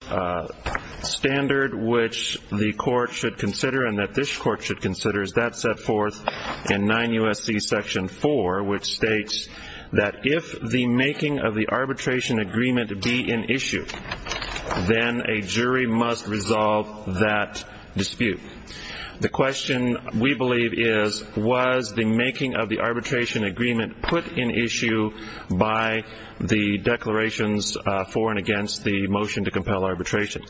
The standard which the court should consider and that this court should consider is that set forth in 9 U.S.C. section 4, which states that if the making of the arbitration agreement be in issue, then a jury must resolve that dispute. The question, we believe, is, was the making of the arbitration agreement put in issue by the declarations for and against the motion to compel arbitration?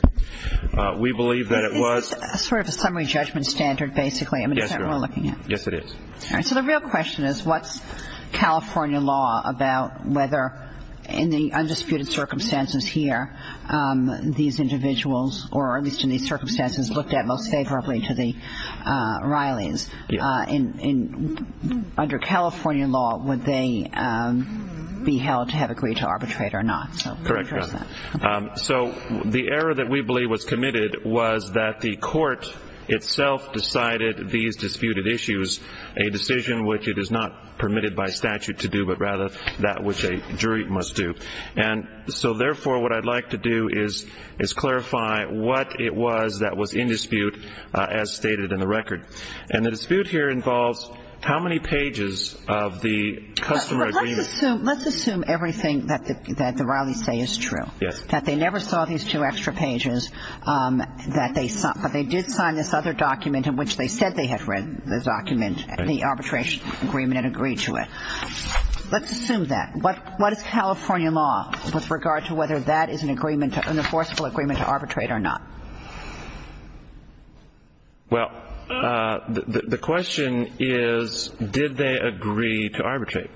We believe that it was... It's sort of a summary judgment standard, basically. Yes, Your Honor. I mean, is that what we're looking at? Yes, it is. So the real question is, what's California law about whether, in the undisputed circumstances here, these individuals, or at least in these circumstances, looked at most favorably to the Reillys? Under California law, would they be held to have agreed to arbitrate or not? Correct, Your Honor. So the error that we believe was committed was that the court itself decided these disputed issues, a decision which it is not permitted by statute to do, but rather that which a jury must do. And so therefore, what I'd like to do is clarify what it was that was in dispute as stated in the record. And the dispute here involves how many pages of the customer agreement... Let's assume everything that the Reillys say is true. Yes. That they never saw these two extra pages, but they did sign this other document in which they said they had read the document, the arbitration agreement and agreed to it. Let's assume that. What is California law with regard to whether that is an agreement, an enforceable agreement to arbitrate or not? Well, the question is, did they agree to arbitrate?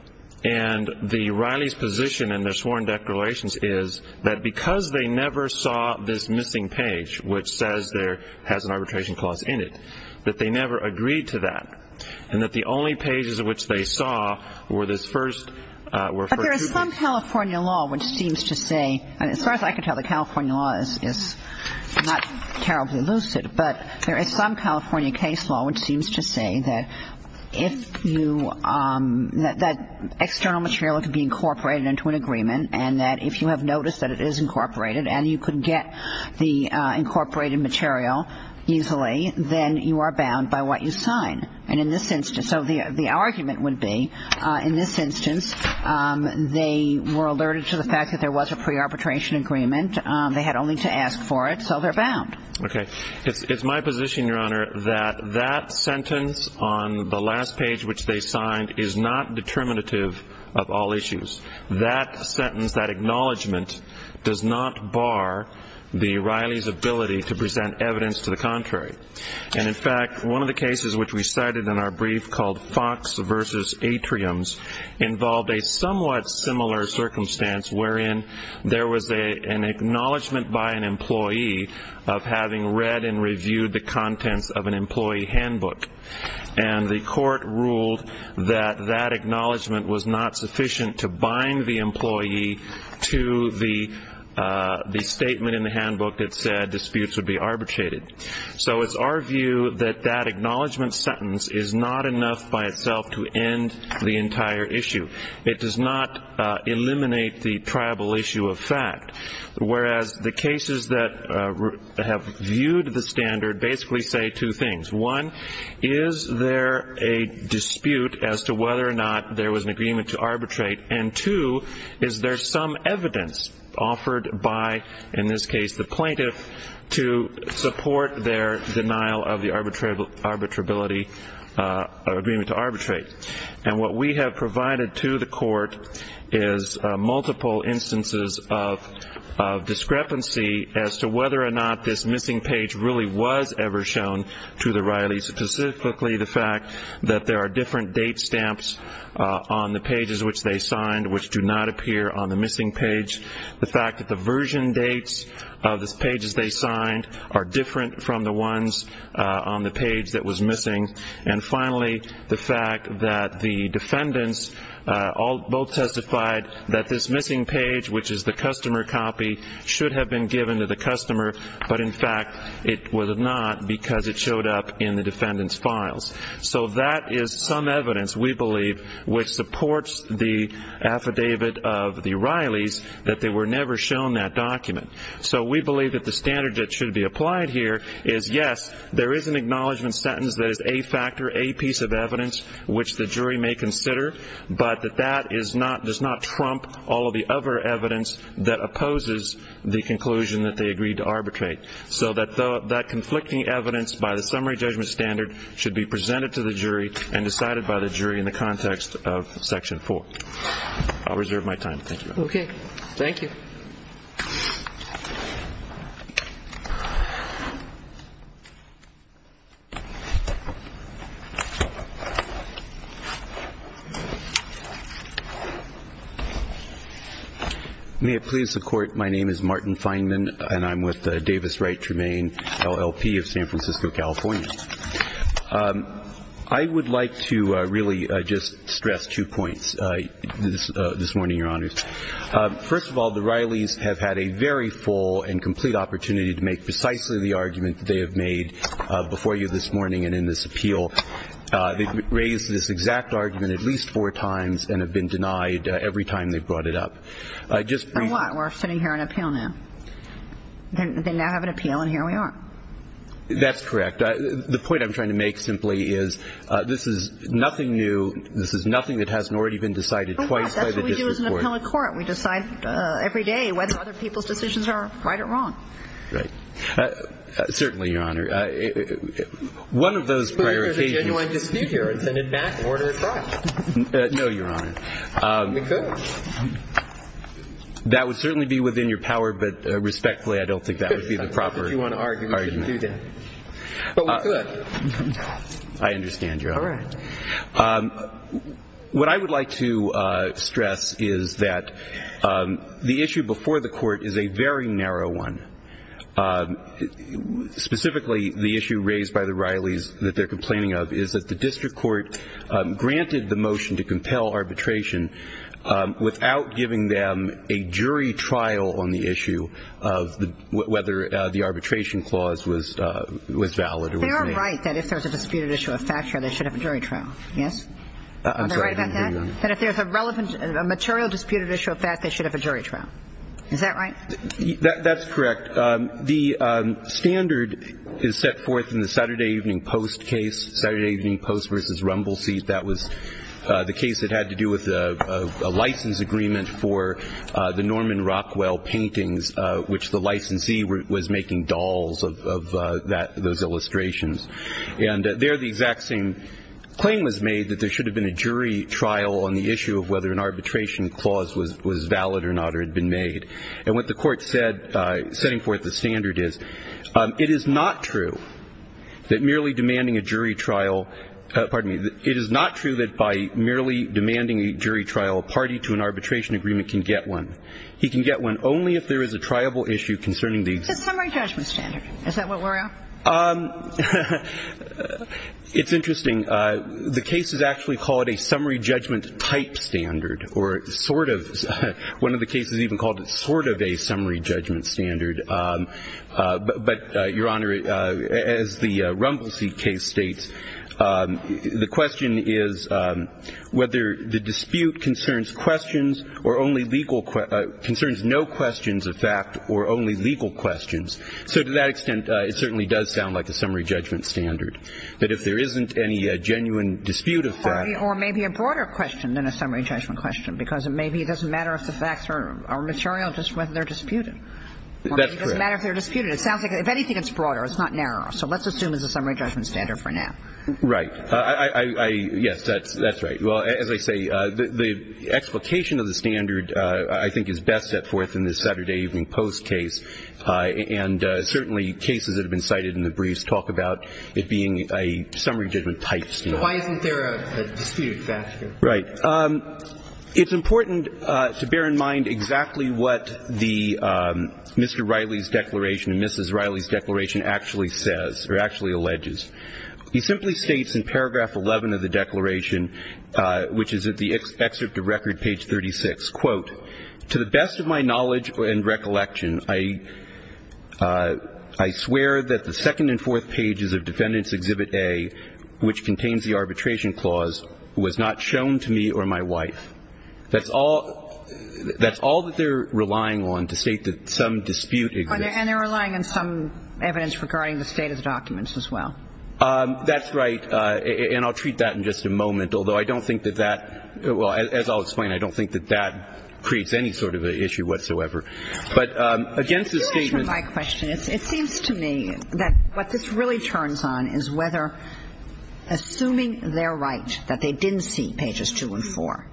And the Reillys' position in their sworn declarations is that because they never saw this missing page which says there has an arbitration clause in it, that they never agreed to that and that the only pages of which they saw were this first two pages. But there is some California law which seems to say, and as far as I can tell, the California law is not terribly lucid, but there is some California case law which seems to say that external material can be incorporated into an agreement and that if you have noticed that it is incorporated and you could get the incorporated material easily, then you are bound by what you sign. And in this instance, so the argument would be, in this instance, they were alerted to the fact that there was a pre-arbitration agreement. They had only to ask for it, so they're bound. Okay. It's my position, Your Honor, that that sentence on the last page which they signed is not determinative of all issues. That sentence, that acknowledgment, does not bar the Reillys' ability to present evidence to the contrary. And in fact, one of the cases which we cited in our brief called Fox v. Atriums involved a somewhat similar circumstance wherein there was an acknowledgment by an employee of having read and reviewed the contents of an employee handbook. And the court ruled that that acknowledgment was not sufficient to bind the employee to the statement in the handbook that said disputes would be arbitrated. So it's our view that that acknowledgment sentence is not enough by itself to end the entire issue. It does not eliminate the tribal issue of fact. Whereas the cases that have viewed the standard basically say two things. One, is there a dispute as to whether or not there was an agreement to arbitrate? And two, is there some evidence offered by, in this case, the plaintiff, to support their denial of the arbitrability agreement to arbitrate? And what we have provided to the court is multiple instances of discrepancy as to whether or not this missing page really was ever shown to the Reillys, specifically the fact that there are different date stamps on the pages which they signed which do not appear on the missing page. The fact that the version dates of the pages they signed are different from the ones on the page that was missing. And finally, the fact that the defendants both testified that this missing page, which is the customer copy, should have been given to the customer, but in fact it was not because it showed up in the defendant's files. So that is some evidence, we believe, which supports the affidavit of the Reillys that they were never shown that document. So we believe that the standard that should be applied here is, yes, there is an acknowledgment sentence that is a factor, a piece of evidence, which the jury may consider, but that that does not trump all of the other evidence that opposes the conclusion that they agreed to arbitrate. So that conflicting evidence, by the summary judgment standard, should be presented to the jury and decided by the jury in the context of Section 4. I'll reserve my time. Thank you. Okay. Thank you. May it please the Court. My name is Martin Fineman, and I'm with Davis Wright Tremaine, LLP of San Francisco, California. I would like to really just stress two points this morning, Your Honors. First of all, the Reillys have had a very full and complete opportunity to make precisely the argument that they have made before you this morning and in this appeal. They've raised this exact argument at least four times and have been denied every time they've brought it up. Just briefly. So what? We're sitting here on appeal now. They now have an appeal, and here we are. That's correct. The point I'm trying to make simply is this is nothing new. This is nothing that hasn't already been decided twice by the district court. This is an appellate court. We decide every day whether other people's decisions are right or wrong. Right. Certainly, Your Honor. One of those prior occasions. But there's a genuine dispute here. It's an advance order of trial. No, Your Honor. We could. That would certainly be within your power, but respectfully, I don't think that would be the proper argument. But we could. I understand, Your Honor. All right. What I would like to stress is that the issue before the court is a very narrow one. Specifically, the issue raised by the Reillys that they're complaining of is that the district court granted the motion to compel arbitration without giving them a jury trial on the issue of whether the arbitration clause was valid or was not. They are right that if there's a disputed issue of facture, they should have a jury trial. Yes? Are they right about that? That if there's a relevant material disputed issue of fact, they should have a jury trial. Is that right? That's correct. The standard is set forth in the Saturday Evening Post case, Saturday Evening Post v. Rumble Seat. That was the case that had to do with a license agreement for the Norman Rockwell paintings, which the licensee was making dolls of those illustrations. And there the exact same claim was made that there should have been a jury trial on the issue of whether an arbitration clause was valid or not or had been made. And what the court said, setting forth the standard is, it is not true that merely demanding a jury trial – pardon me – it is not true that by merely demanding a jury trial, a party to an arbitration agreement can get one. He can get one only if there is a triable issue concerning the – It's a summary judgment standard. Is that what we're after? It's interesting. The cases actually call it a summary judgment type standard or sort of. One of the cases even called it sort of a summary judgment standard. But, Your Honor, as the Rumble Seat case states, the question is whether the dispute concerns questions or only legal – concerns no questions of fact or only legal questions. So to that extent, it certainly does sound like a summary judgment standard. But if there isn't any genuine dispute of fact – Or maybe a broader question than a summary judgment question, because it may be it doesn't matter if the facts are material, just whether they're disputed. That's correct. It doesn't matter if they're disputed. It sounds like if anything it's broader, it's not narrower. So let's assume it's a summary judgment standard for now. Right. I – yes, that's right. Well, as I say, the explication of the standard, I think, is best set forth in the Saturday Evening Post case. And certainly cases that have been cited in the briefs talk about it being a summary judgment type standard. But why isn't there a dispute of fact here? Right. It's important to bear in mind exactly what the – Mr. Riley's declaration and Mrs. Riley's declaration actually says, or actually alleges. He simply states in paragraph 11 of the declaration, which is at the excerpt of record, page 36, quote, to the best of my knowledge and recollection, I swear that the second and fourth pages of Defendant's Exhibit A, which contains the arbitration clause, was not shown to me or my wife. That's all – that's all that they're relying on to state that some dispute exists. And they're relying on some evidence regarding the state of the documents as well. That's right. And I'll treat that in just a moment, although I don't think that that – well, as I'll explain, I don't think that that creates any sort of an issue whatsoever. But against the statement – Could you answer my question? It seems to me that what this really turns on is whether, assuming they're right that they didn't see pages two and four,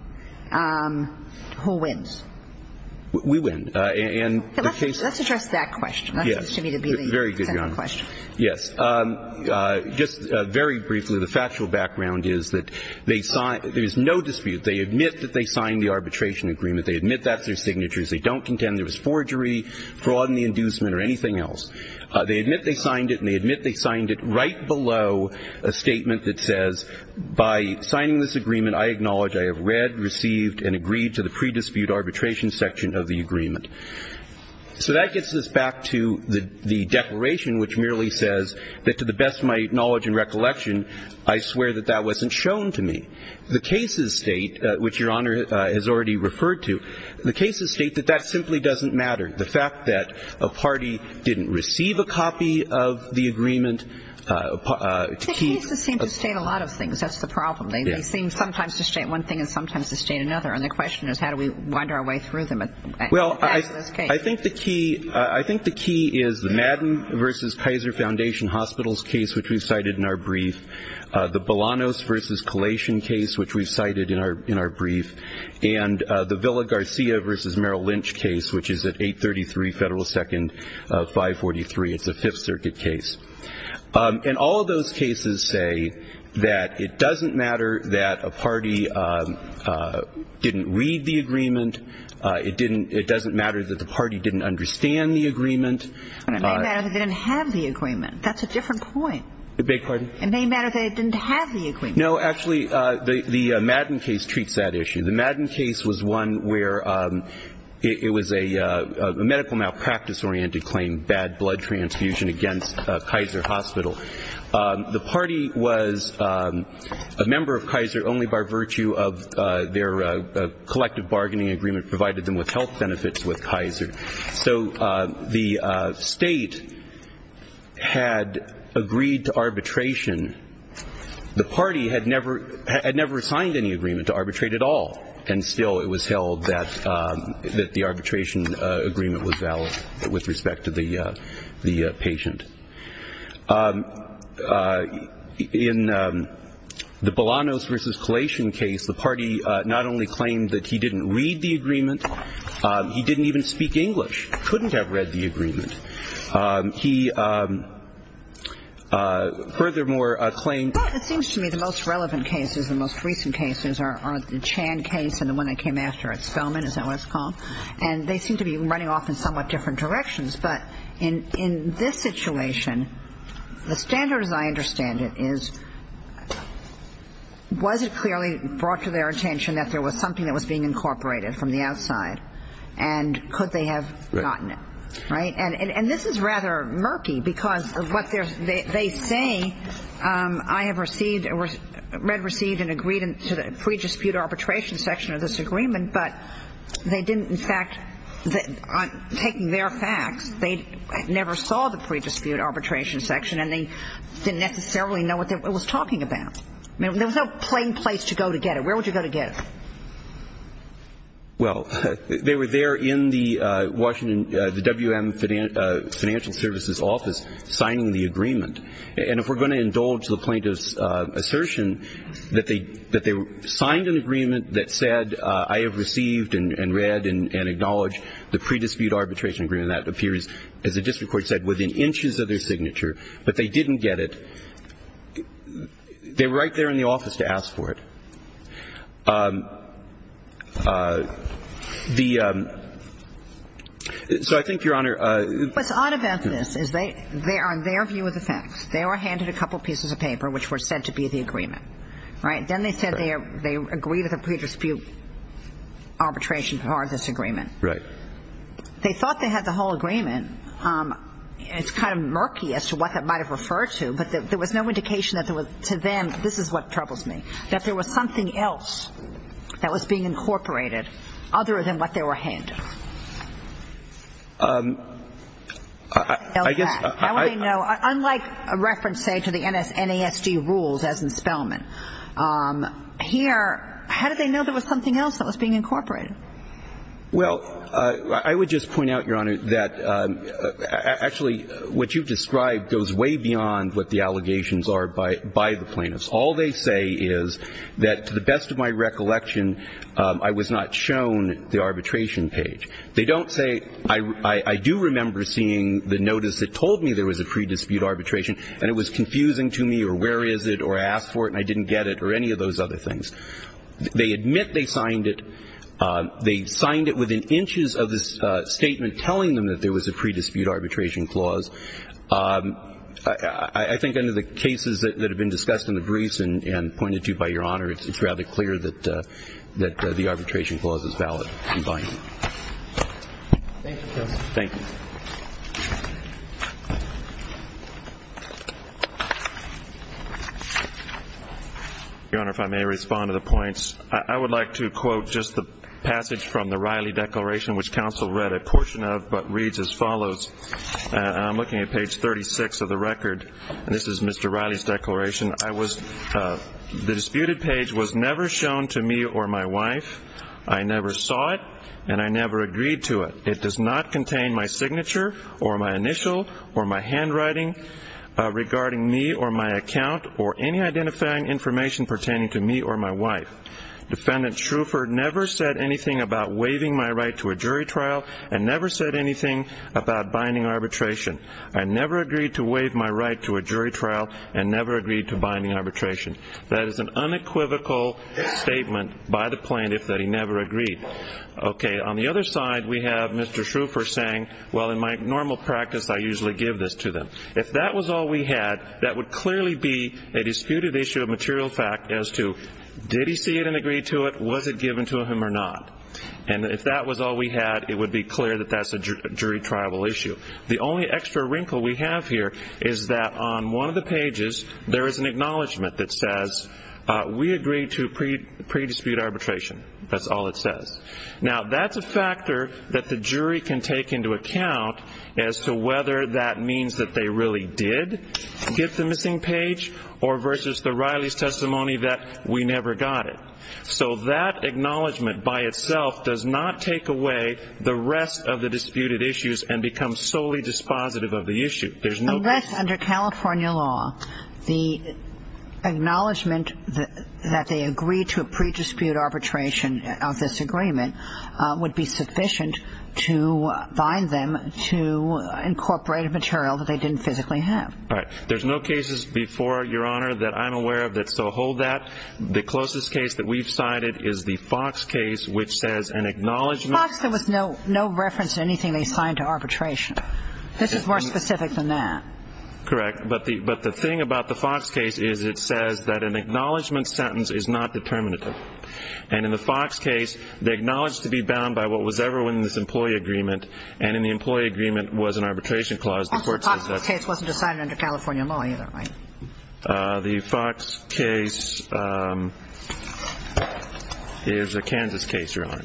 who wins? We win. And the case – Let's address that question. Yes. That seems to me to be the central question. Very good, Your Honor. Yes. Just very briefly, the factual background is that they – there is no dispute. They admit that they signed the arbitration agreement. They admit that's their signature. They don't contend there was forgery, fraud in the inducement, or anything else. They admit they signed it, and they admit they signed it right below a statement that says, by signing this agreement, I acknowledge I have read, received, and agreed to the pre-dispute arbitration section of the agreement. So that gets us back to the declaration, which merely says that, to the best of my knowledge and recollection, I swear that that wasn't shown to me. The cases state, which Your Honor has already referred to, the cases state that that simply doesn't matter. The fact that a party didn't receive a copy of the agreement – The cases seem to state a lot of things. That's the problem. They seem sometimes to state one thing and sometimes to state another. And the question is, how do we wind our way through them? Well, I think the key is the Madden v. Kaiser Foundation Hospitals case, which we cited in our brief, the Bolanos v. Kalashin case, which we've cited in our brief, and the Villa-Garcia v. Merrill Lynch case, which is at 833 Federal Second 543. It's a Fifth Circuit case. And all of those cases say that it doesn't matter that a party didn't read the agreement. It doesn't matter that the party didn't understand the agreement. And it may matter that they didn't have the agreement. That's a different point. Beg your pardon? It may matter that they didn't have the agreement. No, actually, the Madden case treats that issue. The Madden case was one where it was a medical malpractice-oriented claim, bad blood transfusion against Kaiser Hospital. The party was a member of Kaiser only by virtue of their collective bargaining agreement provided them with health benefits with Kaiser. So the state had agreed to arbitration. The party had never signed any agreement to arbitrate at all, and still it was held that the arbitration agreement was valid with respect to the patient. In the Bolanos v. Kalashin case, the party not only claimed that he didn't read the agreement, he didn't even speak English, couldn't have read the agreement. He furthermore claimed that he didn't read the agreement. Well, it seems to me the most relevant cases, the most recent cases, are the Chan case and the one that came after at Spelman, is that what it's called? And they seem to be running off in somewhat different directions. But in this situation, the standard as I understand it is, was it clearly brought to their attention that there was something that was being incorporated from the outside and could they have gotten it, right? And this is rather murky because of what they say, I have read, received, and agreed to the pre-dispute arbitration section of this agreement, but they didn't, in fact, taking their facts, they never saw the pre-dispute arbitration section and they didn't necessarily know what it was talking about. There was no plain place to go to get it. Where would you go to get it? Well, they were there in the Washington, the WM Financial Services Office, signing the agreement. And if we're going to indulge the plaintiff's assertion that they signed an agreement that said, I have received and read and acknowledged the pre-dispute arbitration agreement, that appears, as the district court said, within inches of their signature, but they didn't get it. They were right there in the office to ask for it. So I think, Your Honor. What's odd about this is on their view of the facts, they were handed a couple of pieces of paper which were said to be the agreement, right? Then they said they agreed to the pre-dispute arbitration part of this agreement. Right. They thought they had the whole agreement. It's kind of murky as to what that might have referred to, but there was no indication that there was to them, this is what troubles me, that there was something else that was being incorporated other than what they were handed. I guess. How would they know? Unlike a reference, say, to the NASD rules as in Spellman. Here, how did they know there was something else that was being incorporated? Well, I would just point out, Your Honor, that actually what you've described goes way beyond what the allegations are by the plaintiffs. All they say is that, to the best of my recollection, I was not shown the arbitration page. They don't say, I do remember seeing the notice that told me there was a pre-dispute arbitration and it was confusing to me or where is it or I asked for it and I didn't get it or any of those other things. They admit they signed it. They signed it within inches of this statement telling them that there was a pre-dispute arbitration clause. I think under the cases that have been discussed in the briefs and pointed to by Your Honor, it's rather clear that the arbitration clause is valid and binding. Thank you, counsel. Thank you. Your Honor, if I may respond to the points, I would like to quote just the passage from the Riley Declaration, which counsel read a portion of but reads as follows. I'm looking at page 36 of the record, and this is Mr. Riley's declaration. I was the disputed page was never shown to me or my wife. I never saw it and I never agreed to it. It does not contain my signature or my initial or my handwriting regarding me or my account or any identifying information pertaining to me or my wife. Defendant Shrufer never said anything about waiving my right to a jury trial and never said anything about binding arbitration. I never agreed to waive my right to a jury trial and never agreed to binding arbitration. That is an unequivocal statement by the plaintiff that he never agreed. Okay. On the other side, we have Mr. Shrufer saying, well, in my normal practice, I usually give this to them. If that was all we had, that would clearly be a disputed issue of material fact as to did he see it and agree to it? Was it given to him or not? And if that was all we had, it would be clear that that's a jury trial issue. The only extra wrinkle we have here is that on one of the pages, there is an acknowledgment that says we agree to pre-dispute arbitration. That's all it says. Now, that's a factor that the jury can take into account as to whether that means that they really did get the missing page or versus the Riley's testimony that we never got it. So that acknowledgment by itself does not take away the rest of the disputed issues and become solely dispositive of the issue. Unless under California law, the acknowledgment that they agreed to a pre-dispute arbitration of this agreement would be sufficient to bind them to incorporated material that they didn't physically have. Right. There's no cases before, Your Honor, that I'm aware of that still hold that. The closest case that we've cited is the Fox case, which says an acknowledgment. Fox, there was no reference to anything they signed to arbitration. This is more specific than that. Correct. But the thing about the Fox case is it says that an acknowledgment sentence is not determinative. And in the Fox case, they acknowledge to be bound by what was ever in this employee agreement, and in the employee agreement was an arbitration clause. The Fox case wasn't decided under California law either, right? The Fox case is a Kansas case, Your Honor.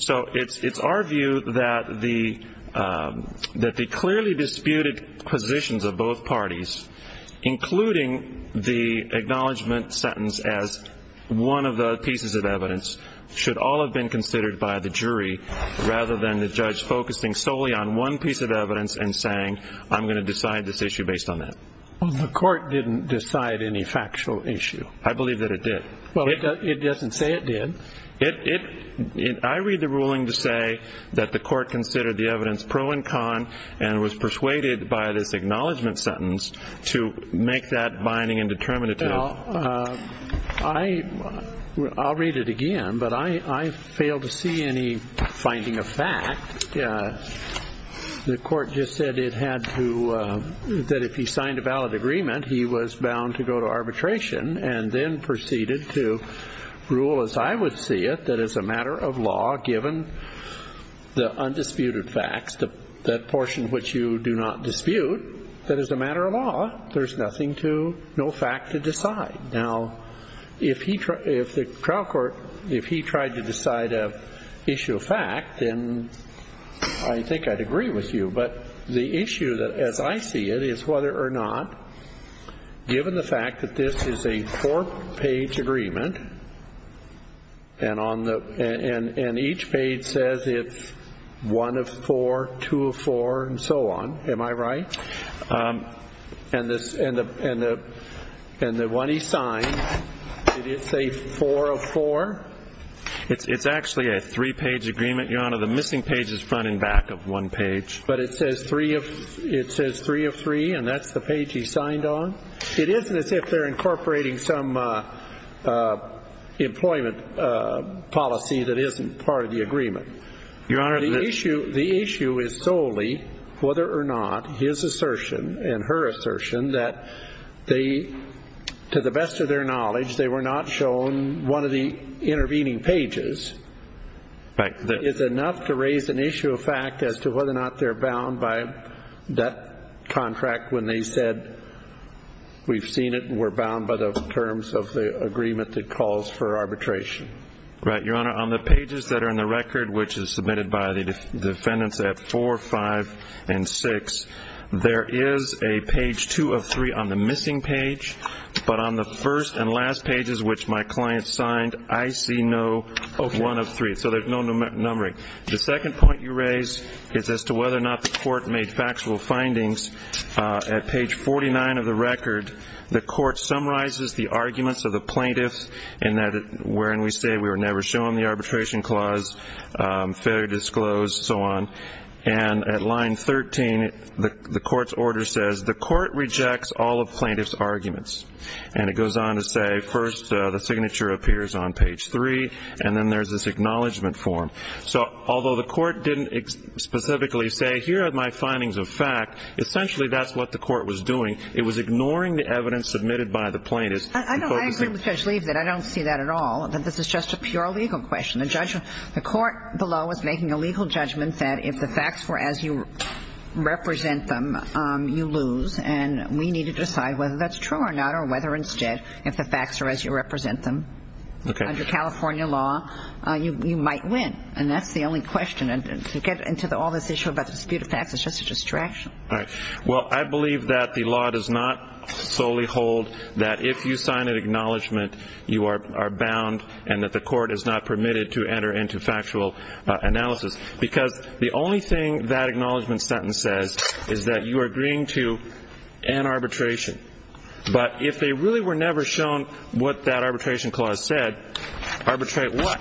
So it's our view that the clearly disputed positions of both parties, including the acknowledgment sentence as one of the pieces of evidence, should all have been considered by the jury rather than the judge focusing solely on one piece of evidence and saying I'm going to decide this issue based on that. The court didn't decide any factual issue. I believe that it did. It doesn't say it did. I read the ruling to say that the court considered the evidence pro and con and was persuaded by this acknowledgment sentence to make that binding and determinative. Well, I'll read it again, but I fail to see any finding of fact. The court just said it had to, that if he signed a valid agreement, he was bound to go to arbitration and then proceeded to rule as I would see it, that as a matter of law, given the undisputed facts, that portion which you do not dispute, that is a matter of law. There's nothing to, no fact to decide. Now, if the trial court, if he tried to decide an issue of fact, then I think I'd agree with you, but the issue as I see it is whether or not, given the fact that this is a four-page agreement and each page says it's one of four, two of four, and so on, am I right? And the one he signed, did it say four of four? It's actually a three-page agreement, Your Honor. The missing page is front and back of one page. But it says three of three, and that's the page he signed on? It isn't as if they're incorporating some employment policy that isn't part of the agreement. Your Honor, the issue is solely whether or not his assertion and her assertion that they, to the best of their knowledge, they were not shown one of the intervening pages. Right. It's enough to raise an issue of fact as to whether or not they're bound by that contract when they said we've seen it and we're bound by the terms of the agreement that calls for arbitration. Right. Your Honor, on the pages that are in the record, which is submitted by the defendants at four, five, and six, there is a page two of three on the missing page. But on the first and last pages, which my client signed, I see no one of three. So there's no numbering. The second point you raise is as to whether or not the court made factual findings. At page 49 of the record, the court summarizes the arguments of the plaintiffs in that wherein we say we were never shown the arbitration clause, failure to disclose, and so on. And at line 13, the court's order says the court rejects all of plaintiff's arguments. And it goes on to say first the signature appears on page three, and then there's this acknowledgment form. So although the court didn't specifically say here are my findings of fact, essentially that's what the court was doing. It was ignoring the evidence submitted by the plaintiffs. I agree with Judge Lieb that I don't see that at all, that this is just a pure legal question. The court below is making a legal judgment that if the facts were as you represent them, you lose. And we need to decide whether that's true or not or whether instead if the facts are as you represent them, under California law, you might win. And that's the only question. And to get into all this issue about the dispute of facts is just a distraction. All right. Well, I believe that the law does not solely hold that if you sign an acknowledgment, you are bound and that the court is not permitted to enter into factual analysis. Because the only thing that acknowledgment sentence says is that you are agreeing to an arbitration. But if they really were never shown what that arbitration clause said, arbitrate what?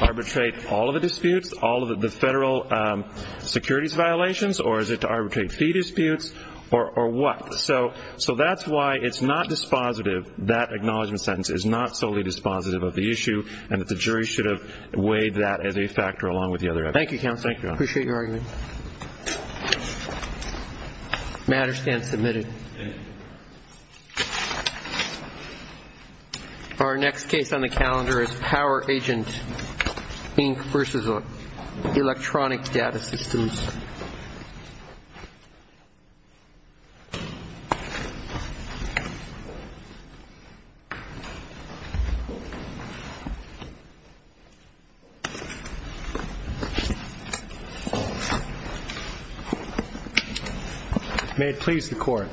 Arbitrate all of the disputes, all of the federal securities violations, or is it to arbitrate fee disputes, or what? So that's why it's not dispositive. That acknowledgment sentence is not solely dispositive of the issue and that the jury should have weighed that as a factor along with the other evidence. Thank you, Counselor. Appreciate your argument. Matter stands submitted. Our next case on the calendar is Power Agent Inc. v. Electronic Data Systems. May it please the Court.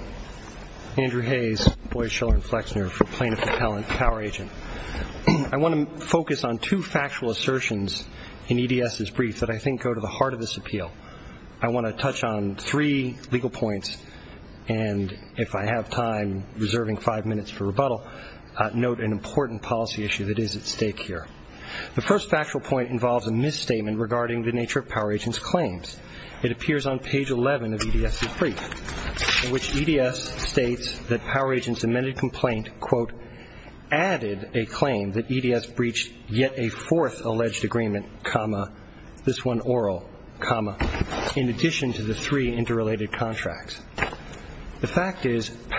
Andrew Hayes, Boies, Schiller, and Flexner for Plaintiff to Power Agent. I want to focus on two factual assertions in EDS's brief that I think go to the heart of this appeal. I want to touch on three legal points, and if I have time, reserving five minutes for rebuttal, note an important policy issue that is at stake here. The first factual point involves a misstatement regarding the nature of Power Agent's claims. In which EDS states that Power Agent's amended complaint, quote, added a claim that EDS breached yet a fourth alleged agreement, comma, this one oral, comma, in addition to the three interrelated contracts. The fact is,